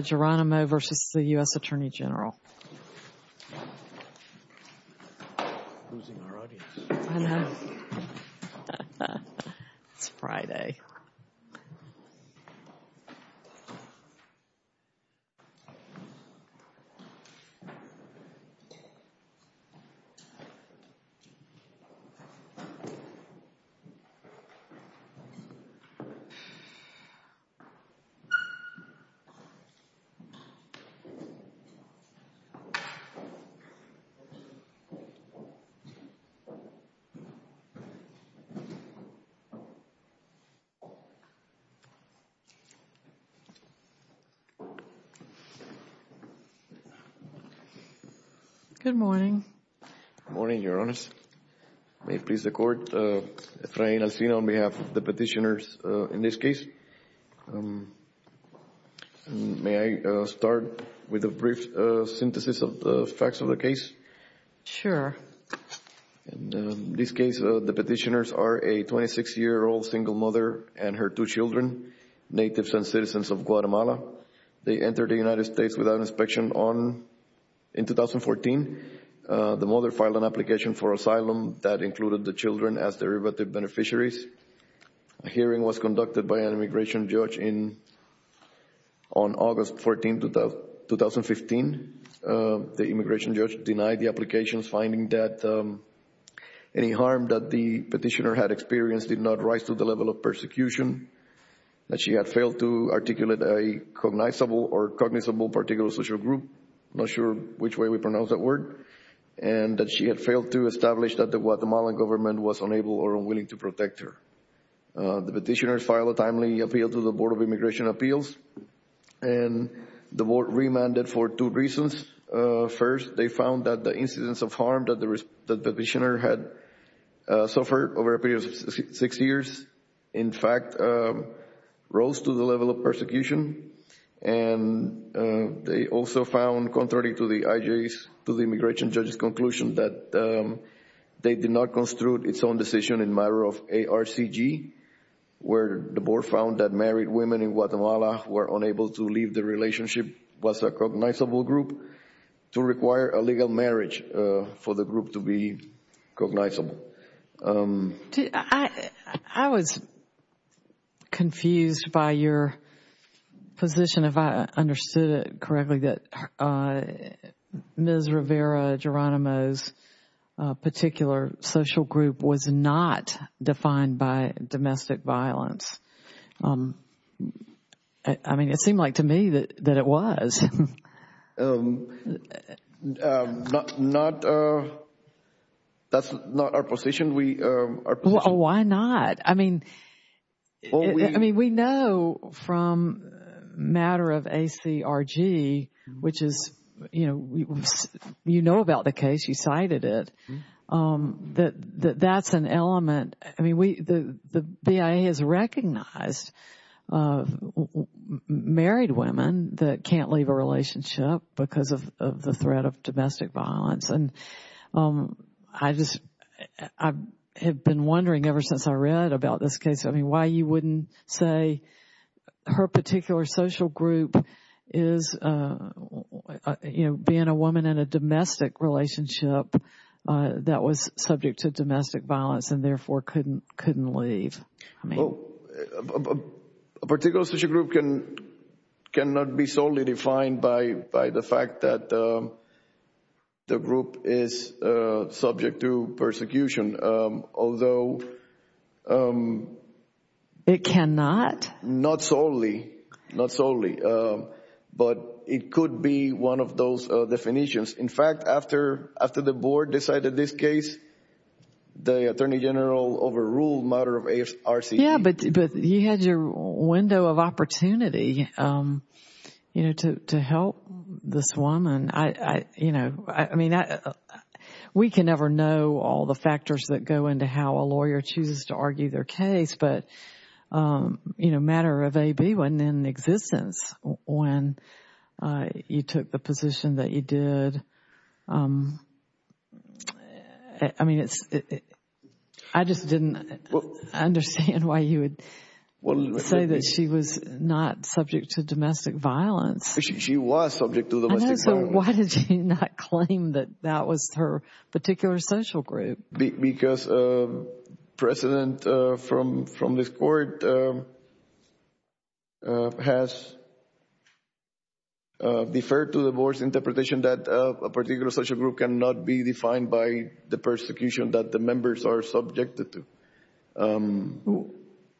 Geronimo v. the U.S. Attorney General It's Friday Good morning. Good morning, Your Honors. May it please the Court, Efrain Alcina on behalf of the petitioners in this case. May I start with a brief synthesis of the facts of the case? Sure. In this case, the petitioners are a 26-year-old single mother and her two children, natives and citizens of Guatemala. They entered the United States without inspection in 2014. The mother filed an application for asylum that included the children as derivative beneficiaries. A hearing was conducted by an immigration judge on August 14, 2015. The immigration judge denied the applications, finding that any harm that the petitioner had experienced did not rise to the level of persecution, that she had failed to articulate a cognizable or cognizable particular social group. I'm not sure which way we pronounce that word. And that she had failed to establish that the Guatemalan government was unable or unwilling to protect her. The petitioners filed a timely appeal to the Board of Immigration Appeals, and the Board remanded for two reasons. First, they found that the incidents of harm that the petitioner had suffered over a period of six years, in fact, rose to the level of persecution. And they also found, contrary to the IJ's, to the immigration judge's conclusion, that they did not construe its own decision in matter of ARCG, where the board found that married women in Guatemala were unable to leave the relationship, was a cognizable group, to require a legal marriage for the group to be cognizable. I was confused by your position, if I understood it correctly, that Ms. Rivera Geronimo's particular social group was not defined by domestic violence. I mean, it seemed like to me that it was. That's not our position. Why not? I mean, we know from matter of ACRG, which is, you know, you know about the case, she cited it, that that's an element. I mean, the BIA has recognized married women that can't leave a relationship because of the threat of domestic violence. And I just have been wondering ever since I read about this case, I mean, why you wouldn't say her particular social group is, you know, being a woman in a domestic relationship that was subject to domestic violence and therefore couldn't leave. A particular social group cannot be solely defined by the fact that the group is subject to persecution, although... It cannot? Not solely, not solely, but it could be one of those definitions. In fact, after the Board decided this case, the Attorney General overruled matter of ARCG. Yeah, but you had your window of opportunity, you know, to help this woman. I mean, we can never know all the factors that go into how a lawyer chooses to argue their case, but, you know, matter of AB wasn't in existence when you took the position that you did. I mean, I just didn't understand why you would say that she was not subject to domestic violence. She was subject to domestic violence. So why did you not claim that that was her particular social group? Because precedent from this Court has deferred to the Board's interpretation that a particular social group cannot be defined by the persecution that the members are subjected to.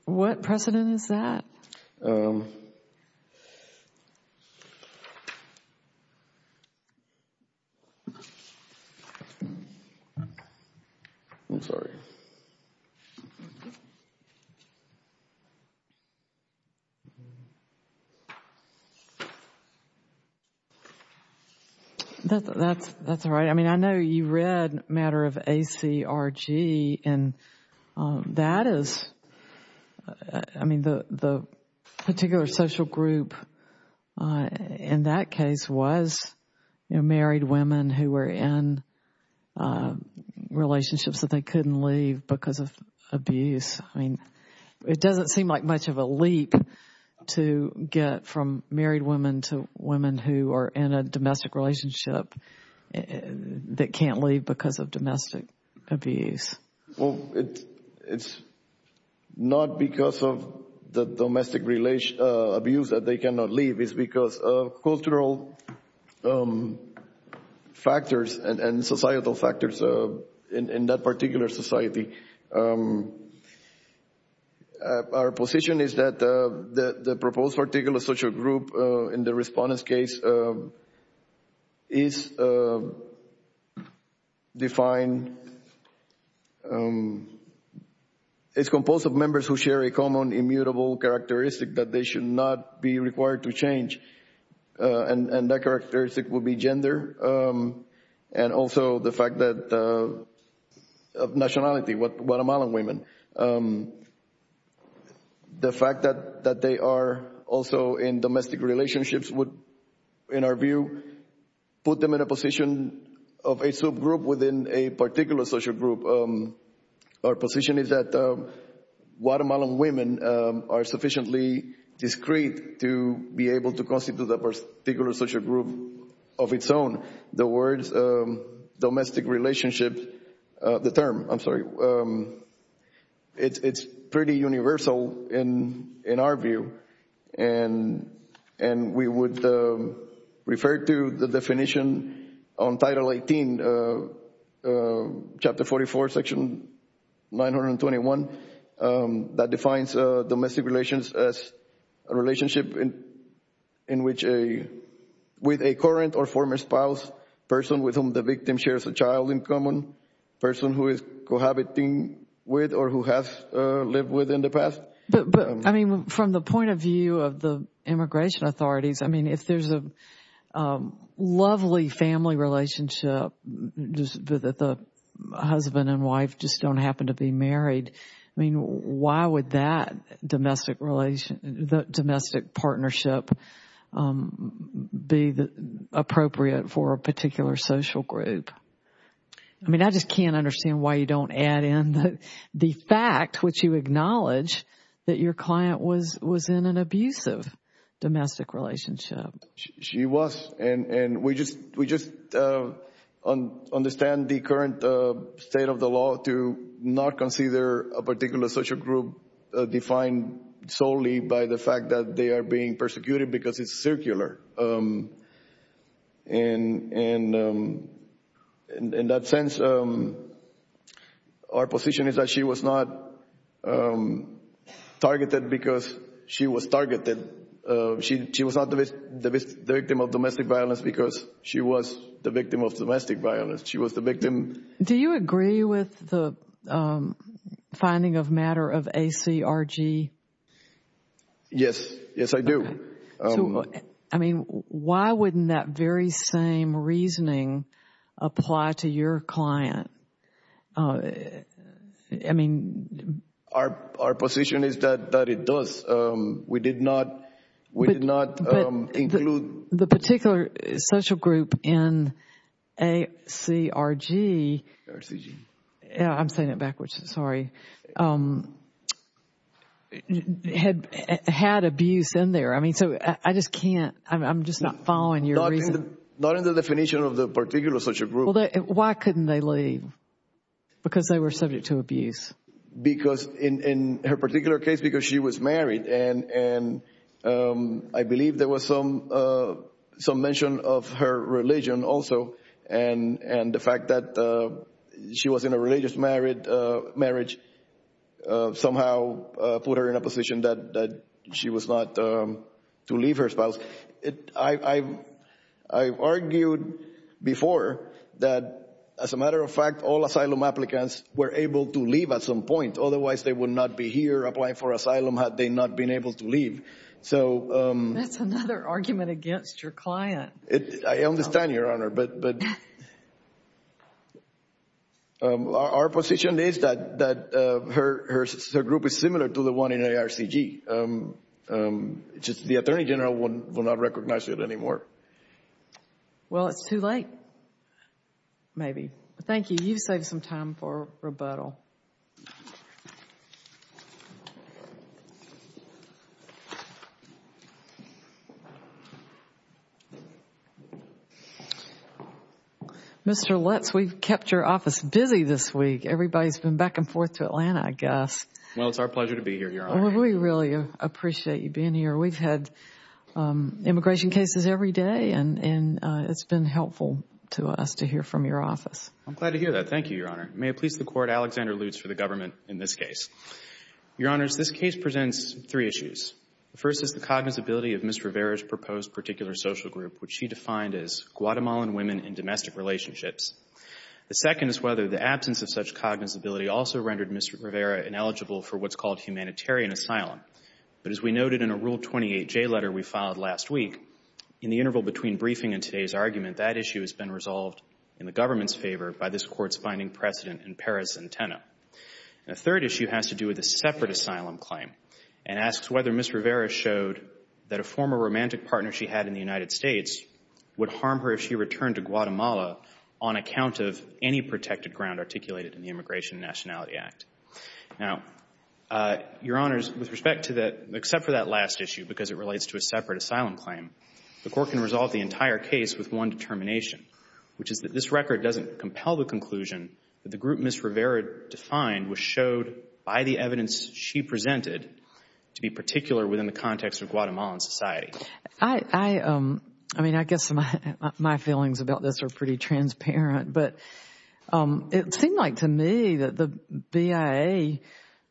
What precedent is that? I'm sorry. That's all right. I mean, I know you read matter of ACRG, and that is, I mean, the particular social group in that case was married women who were in relationships that they couldn't leave because of abuse. I mean, it doesn't seem like much of a leap to get from married women to women who are in a domestic relationship that can't leave because of domestic abuse. Well, it's not because of the domestic abuse that they cannot leave. It's because of cultural factors and societal factors in that particular society. Our position is that the proposed particular social group in the Respondent's case is defined, is composed of members who share a common immutable characteristic that they should not be required to change, and that characteristic would be gender, and also the fact that of nationality, Guatemalan women. The fact that they are also in domestic relationships would, in our view, put them in a position of a subgroup within a particular social group. Our position is that Guatemalan women are sufficiently discreet to be able to constitute a particular social group of its own. The words domestic relationships, the term, I'm sorry, it's pretty universal in our view, and we would refer to the definition on Title 18, Chapter 44, Section 921, that defines domestic relations as a relationship with a current or former spouse, person with whom the victim shares a child in common, person who is cohabiting with or who has lived with in the past. But, I mean, from the point of view of the immigration authorities, I mean, if there's a lovely family relationship, just that the husband and wife just don't happen to be married, I mean, why would that domestic partnership be appropriate for a particular social group? I mean, I just can't understand why you don't add in the fact which you acknowledge that your client was in an abusive domestic relationship. She was, and we just understand the current state of the law to not consider a particular social group defined solely by the fact that they are being persecuted because it's circular. And in that sense, our position is that she was not targeted because she was targeted. She was not the victim of domestic violence because she was the victim of domestic violence. She was the victim. Do you agree with the finding of matter of ACRG? Yes. Yes, I do. I mean, why wouldn't that very same reasoning apply to your client? I mean, our position is that it does. We did not, we did not include. The particular social group in ACRG, I'm saying it backwards, sorry, had abuse in there. I mean, so I just can't, I'm just not following your reasoning. Not in the definition of the particular social group. Why couldn't they leave? Because they were subject to abuse. Because in her particular case, because she was married and I believe there was some mention of her religion also. And the fact that she was in a religious marriage somehow put her in a position that she was not to leave her spouse. I've argued before that, as a matter of fact, all asylum applicants were able to leave at some point. Otherwise, they would not be here applying for asylum had they not been able to leave. That's another argument against your client. I understand, Your Honor, but our position is that her group is similar to the one in ARCG. Just the Attorney General will not recognize it anymore. Well, it's too late, maybe. Thank you. You've saved some time for rebuttal. Mr. Lutz, we've kept your office busy this week. Everybody's been back and forth to Atlanta, I guess. Well, it's our pleasure to be here, Your Honor. We really appreciate you being here. We've had immigration cases every day, and it's been helpful to us to hear from your office. I'm glad to hear that. Thank you, Your Honor. May it please the Court, Alexander Lutz for the government in this case. Your Honors, this case presents three issues. The first is the cognizability of Ms. Rivera's proposed particular social group, which she defined as Guatemalan women in domestic relationships. The second is whether the absence of such cognizability also rendered Ms. Rivera ineligible for what's called humanitarian asylum. But as we noted in a Rule 28J letter we filed last week, in the interval between briefing and today's argument, that issue has been resolved in the government's favor by this Court's finding precedent in Paris and Teno. The third issue has to do with a separate asylum claim and asks whether Ms. Rivera showed that a former romantic partner she had in the United States would harm her if she returned to Guatemala on account of any protected ground articulated in the Immigration and Nationality Act. Now, Your Honors, with respect to that, except for that last issue, because it relates to a separate asylum claim, the Court can resolve the entire case with one determination, which is that this record doesn't compel the conclusion that the group Ms. Rivera defined was showed by the evidence she presented to be particular within the context of Guatemalan society. I mean, I guess my feelings about this are pretty transparent, but it seemed like to me that the BIA,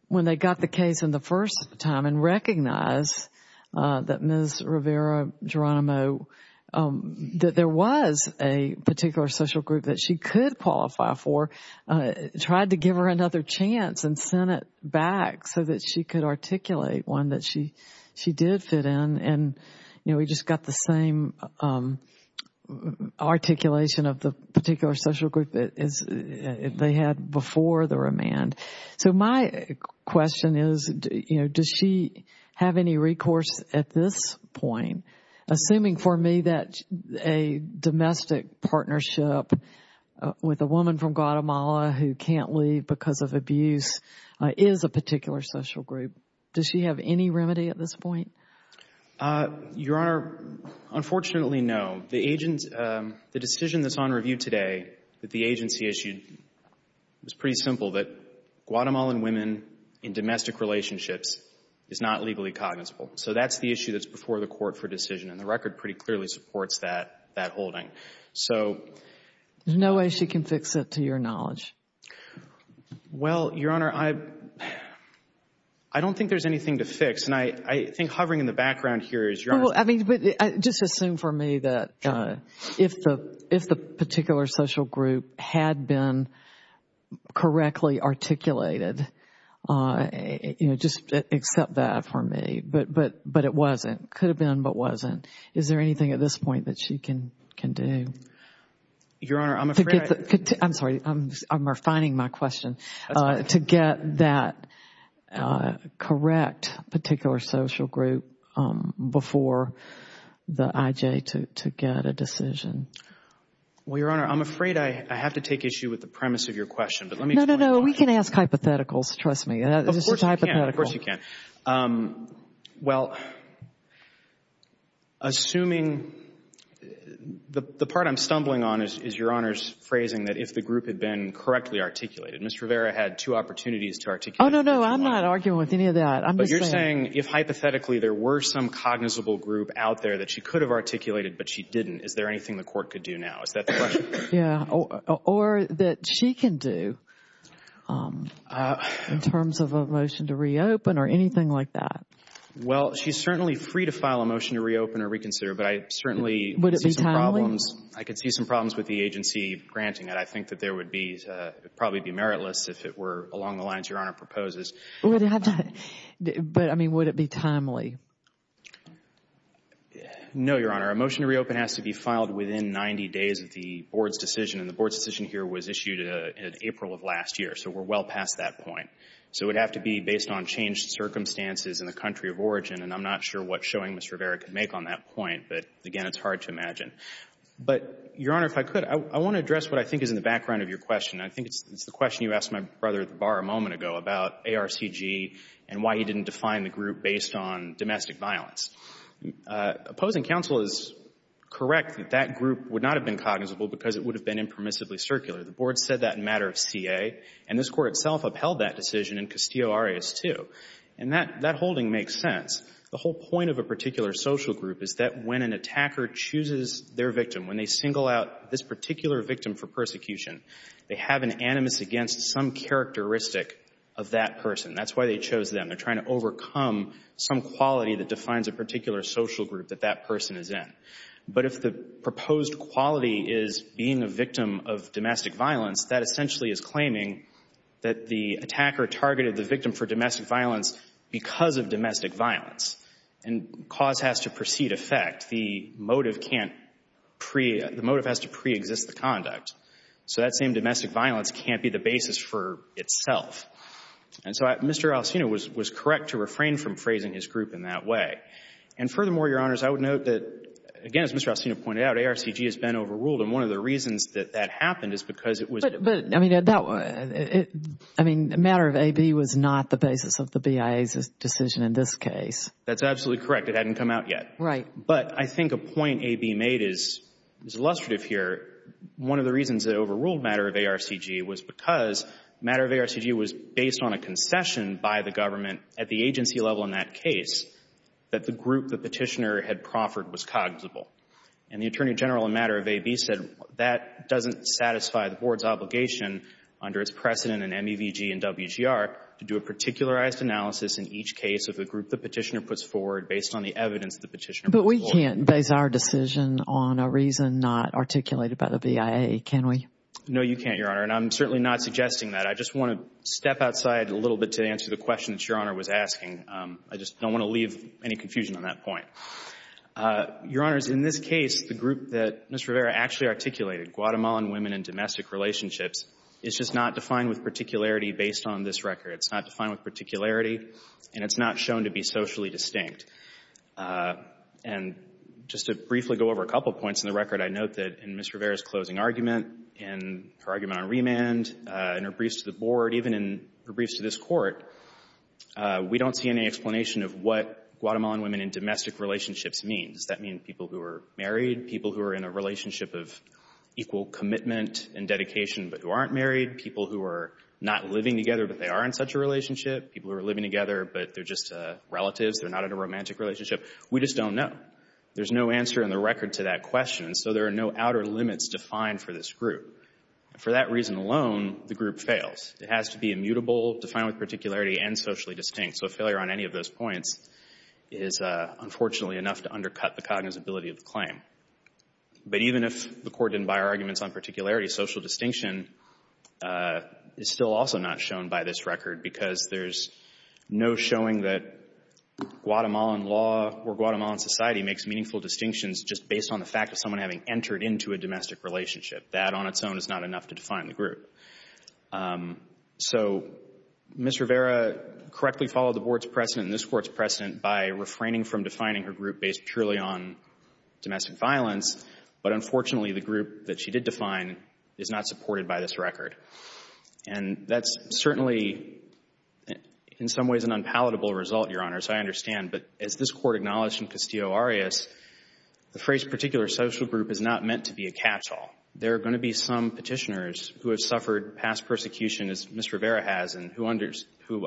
when they got the case in the first time and recognized that Ms. Rivera Geronimo, that there was a particular social group that she could qualify for, tried to give her another chance and sent it back so that she could articulate one that she did fit in and, you know, we just got the same articulation of the particular social group that they had before the remand. So my question is, you know, does she have any recourse at this point, assuming for me that a domestic partnership with a woman from Guatemala who can't leave because of abuse is a particular social group? Does she have any remedy at this point? Your Honor, unfortunately, no. The decision that's on review today that the agency issued was pretty simple, that Guatemalan women in domestic relationships is not legally cognizable. So that's the issue that's before the Court for decision, and the record pretty clearly supports that holding. So there's no way she can fix it, to your knowledge. Well, Your Honor, I don't think there's anything to fix, and I think hovering in the background here is your understanding. Well, I mean, just assume for me that if the particular social group had been correctly articulated, you know, just accept that for me, but it wasn't. It could have been, but it wasn't. Is there anything at this point that she can do? Your Honor, I'm afraid I— I'm sorry. I'm refining my question. To get that correct particular social group before the IJ to get a decision. Well, Your Honor, I'm afraid I have to take issue with the premise of your question, but let me explain— No, no, no. We can ask hypotheticals. Trust me. Of course you can. Of course you can. Well, assuming—the part I'm stumbling on is Your Honor's phrasing that if the group had been correctly articulated. Ms. Rivera had two opportunities to articulate. Oh, no, no. I'm not arguing with any of that. I'm just saying— But you're saying if hypothetically there were some cognizable group out there that she could have articulated but she didn't, Is that the question? Yeah. Or that she can do in terms of a motion to reopen or anything like that? Well, she's certainly free to file a motion to reopen or reconsider, but I certainly— Would it be timely? I could see some problems with the agency granting that. I think that there would be—it would probably be meritless if it were along the lines Your Honor proposes. Would it have to—but, I mean, would it be timely? No, Your Honor. A motion to reopen has to be filed within 90 days of the board's decision, and the board's decision here was issued in April of last year. So we're well past that point. So it would have to be based on changed circumstances in the country of origin, and I'm not sure what showing Ms. Rivera could make on that point. But, again, it's hard to imagine. But, Your Honor, if I could, I want to address what I think is in the background of your question. I think it's the question you asked my brother at the bar a moment ago about ARCG and why he didn't define the group based on domestic violence. Opposing counsel is correct that that group would not have been cognizable because it would have been impermissibly circular. The board said that in a matter of CA, and this Court itself upheld that decision in Castillo-Arias 2. And that holding makes sense. The whole point of a particular social group is that when an attacker chooses their victim, when they single out this particular victim for persecution, they have an animus against some characteristic of that person. That's why they chose them. They're trying to overcome some quality that defines a particular social group that that person is in. But if the proposed quality is being a victim of domestic violence, that essentially is claiming that the attacker targeted the victim for domestic violence because of domestic violence. And cause has to precede effect. The motive can't pre—the motive has to preexist the conduct. So that same domestic violence can't be the basis for itself. And so Mr. Alcino was correct to refrain from phrasing his group in that way. And furthermore, Your Honors, I would note that, again, as Mr. Alcino pointed out, ARCG has been overruled. And one of the reasons that that happened is because it was— But, I mean, matter of AB was not the basis of the BIA's decision in this case. That's absolutely correct. It hadn't come out yet. Right. But I think a point AB made is illustrative here. One of the reasons it overruled matter of ARCG was because matter of ARCG was based on a concession by the government at the agency level in that case that the group the petitioner had proffered was cognizable. And the Attorney General in matter of AB said that doesn't satisfy the Board's obligation under its precedent in MEVG and WGR to do a particularized analysis in each case of the group the petitioner puts forward based on the evidence the petitioner put forward. But we can't base our decision on a reason not articulated by the BIA, can we? No, you can't, Your Honor. And I'm certainly not suggesting that. I just want to step outside a little bit to answer the question that Your Honor was asking. I just don't want to leave any confusion on that point. Your Honors, in this case, the group that Ms. Rivera actually articulated, Guatemalan Women and Domestic Relationships, is just not defined with particularity based on this record. It's not defined with particularity, and it's not shown to be socially distinct. And just to briefly go over a couple points in the record, I note that in Ms. Rivera's closing argument and her argument on remand and her briefs to the Board, even in her briefs to this Court, we don't see any explanation of what Guatemalan Women and Domestic Relationships means. Does that mean people who are married, people who are in a relationship of equal commitment and dedication but who aren't married, people who are not living together but they are in such a relationship, people who are living together but they're just relatives, they're not in a romantic relationship? We just don't know. There's no answer in the record to that question, so there are no outer limits defined for this group. For that reason alone, the group fails. It has to be immutable, defined with particularity, and socially distinct. So failure on any of those points is unfortunately enough to undercut the cognizability of the claim. But even if the Court didn't buy our arguments on particularity, social distinction is still also not shown by this record because there's no showing that Guatemalan law or Guatemalan society makes meaningful distinctions just based on the fact of someone having entered into a domestic relationship. That on its own is not enough to define the group. So Ms. Rivera correctly followed the Board's precedent and this Court's precedent by refraining from defining her group based purely on domestic violence, but unfortunately the group that she did define is not supported by this record. And that's certainly in some ways an unpalatable result, Your Honor, so I understand. But as this Court acknowledged in Castillo-Arias, the phrase particular social group is not meant to be a catch-all. There are going to be some petitioners who have suffered past persecution, as Ms. Rivera has, and who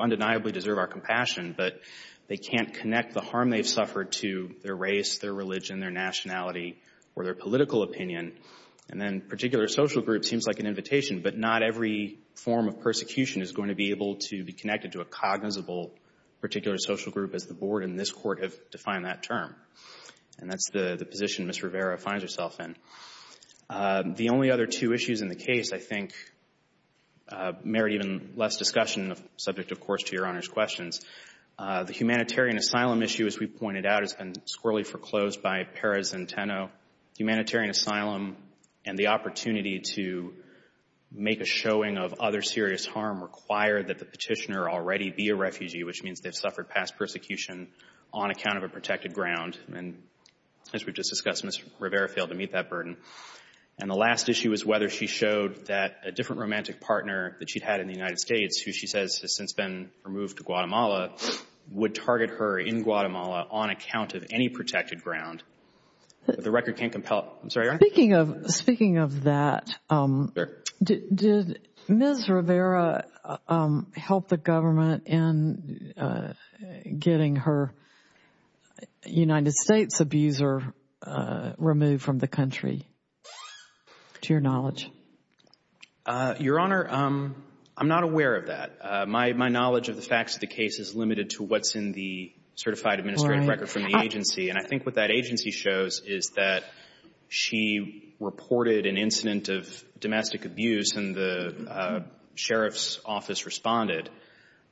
undeniably deserve our compassion, but they can't connect the harm they've suffered to their race, their religion, their nationality, or their political opinion. And then particular social group seems like an invitation, but not every form of persecution is going to be able to be connected to a cognizable particular social group, as the Board and this Court have defined that term. And that's the position Ms. Rivera finds herself in. The only other two issues in the case, I think, merit even less discussion, subject, of course, to Your Honor's questions. The humanitarian asylum issue, as we pointed out, has been squirrelly foreclosed by Perez and Tenno. Humanitarian asylum and the opportunity to make a showing of other serious harm require that the petitioner already be a refugee, which means they've suffered past persecution on account of a protected ground. And as we've just discussed, Ms. Rivera failed to meet that burden. And the last issue is whether she showed that a different romantic partner that she'd had in the United States, who she says has since been removed to Guatemala, would target her in Guatemala on account of any protected ground. The record can't compel it. I'm sorry, Your Honor. Speaking of that, did Ms. Rivera help the government in getting her United States abuser removed from the country, to your knowledge? Your Honor, I'm not aware of that. My knowledge of the facts of the case is limited to what's in the certified administrative record from the agency. And I think what that agency shows is that she reported an incident of domestic abuse and the sheriff's office responded.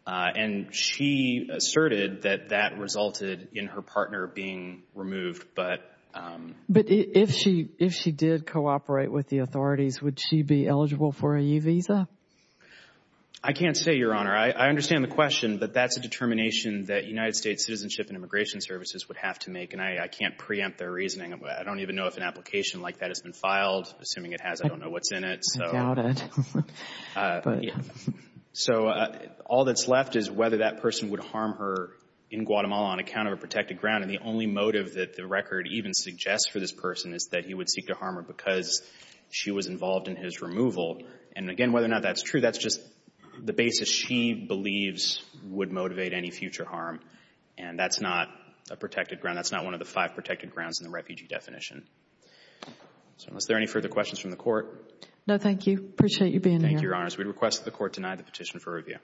And she asserted that that resulted in her partner being removed. But if she did cooperate with the authorities, would she be eligible for a U visa? I can't say, Your Honor. I understand the question, but that's a determination that United States Citizenship and Immigration Services would have to make. And I can't preempt their reasoning. I don't even know if an application like that has been filed. Assuming it has, I don't know what's in it. I doubt it. So all that's left is whether that person would harm her in Guatemala on account of a protected ground. And the only motive that the record even suggests for this person is that he would seek to harm her because she was involved in his removal. And again, whether or not that's true, that's just the basis she believes would motivate any future harm. And that's not a protected ground. That's not one of the five protected grounds in the refugee definition. So unless there are any further questions from the Court. No, thank you. I appreciate you being here. Thank you, Your Honors. We request that the Court deny the petition for review.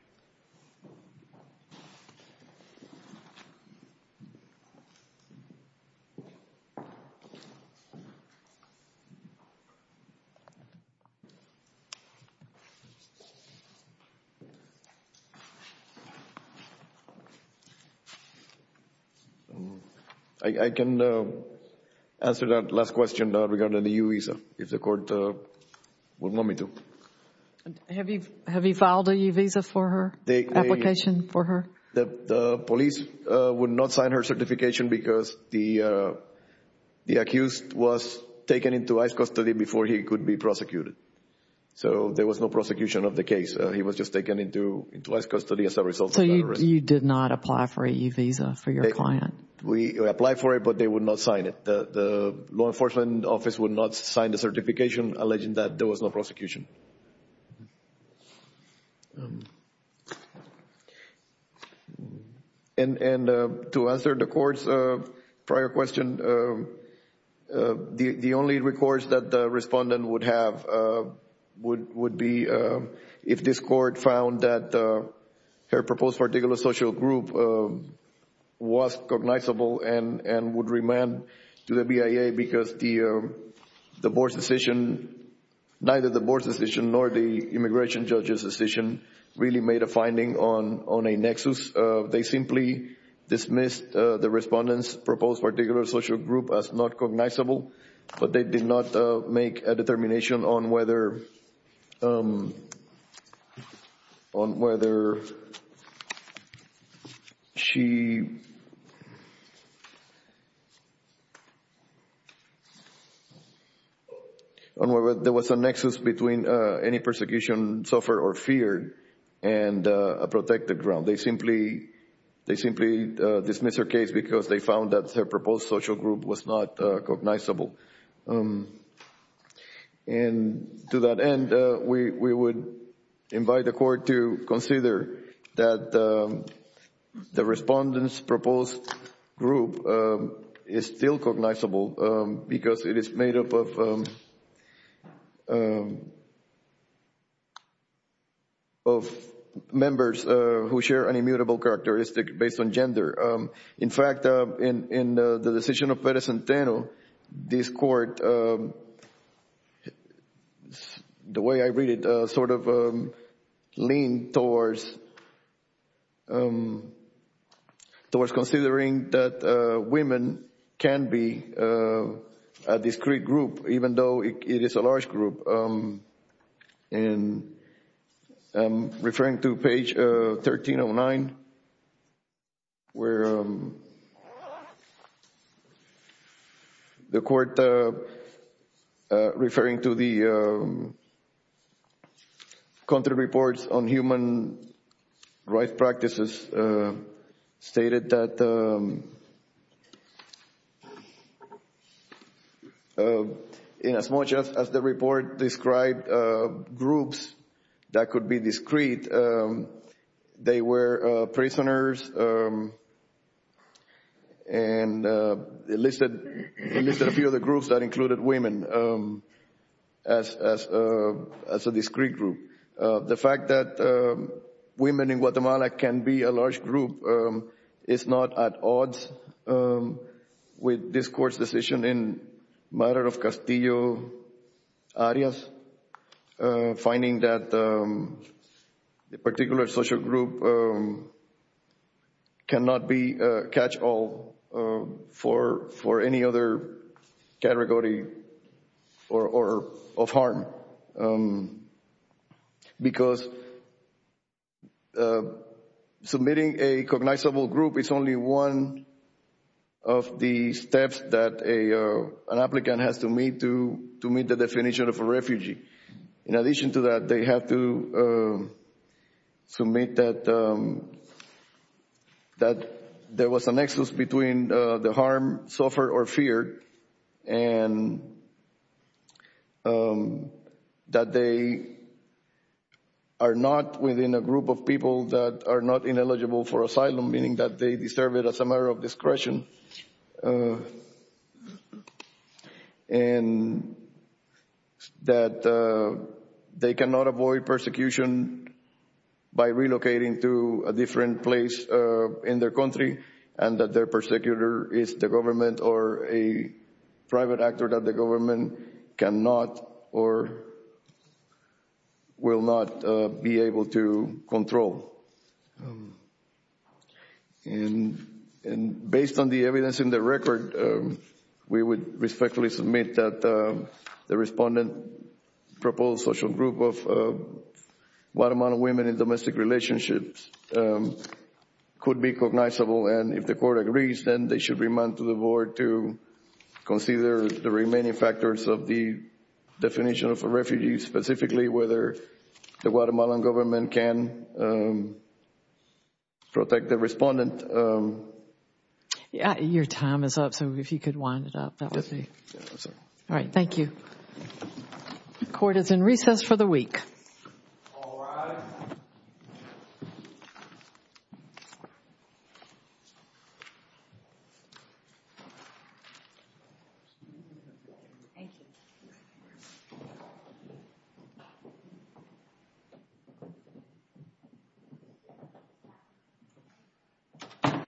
Thank you. I can answer that last question regarding the U visa if the Court would want me to. Have you filed a U visa for her? Application for her? The police would not sign her certification because the accused was taken into ICE custody before he could be prosecuted. So there was no prosecution of the case. He was just taken into ICE custody as a result of that arrest. So you did not apply for a U visa for your client? We applied for it, but they would not sign it. The law enforcement office would not sign the certification alleging that there was no prosecution. And to answer the Court's prior question, the only recourse that the respondent would have would be if this Court found that her proposed particular social group was cognizable and would remand to the BIA because the Board's decision, neither the Board's decision nor the immigration judge's decision really made a finding on a nexus. They simply dismissed the respondent's proposed particular social group as not cognizable, but they did not make a determination on whether she—on whether there was a nexus between any persecution suffered or feared and a protected ground. They simply dismissed her case because they found that her proposed social group was not cognizable. And to that end, we would invite the Court to consider that the respondent's proposed group is still cognizable because it is made up of members who share an immutable characteristic based on gender. In fact, in the decision of Perez-Santeno, this Court, the way I read it, sort of leaned towards considering that women can be a discrete group even though it is a large group. And I'm referring to page 1309 where the Court, referring to the content reports on the report, described groups that could be discrete. They were prisoners and listed a few of the groups that included women as a discrete group. The fact that women in Guatemala can be a large group is not at odds with this Court's decision in the matter of Castillo-Arias, finding that the particular social group cannot be catch-all for any other category of harm because submitting a cognizable group is only one of the steps that an applicant has to meet to meet the definition of a refugee. In addition to that, they have to submit that there was a nexus between the harm suffered or feared and that they are not within a group of people that are not ineligible for asylum, meaning that they deserve it as a matter of discretion. And that they cannot avoid persecution by relocating to a different place in their country and that their persecutor is the government or a private actor that the government cannot or will not be able to control. And based on the evidence in the record, we would respectfully submit that the respondent proposed social group of Guatemalan women in domestic relationships could be cognizable and if the Court agrees, then they should remand to the Board to consider the remaining factors of the definition of a refugee, specifically whether the Guatemalan government can protect the respondent. Your time is up, so if you could wind it up. All right, thank you. The Court is in recess for the week. All rise. Thank you.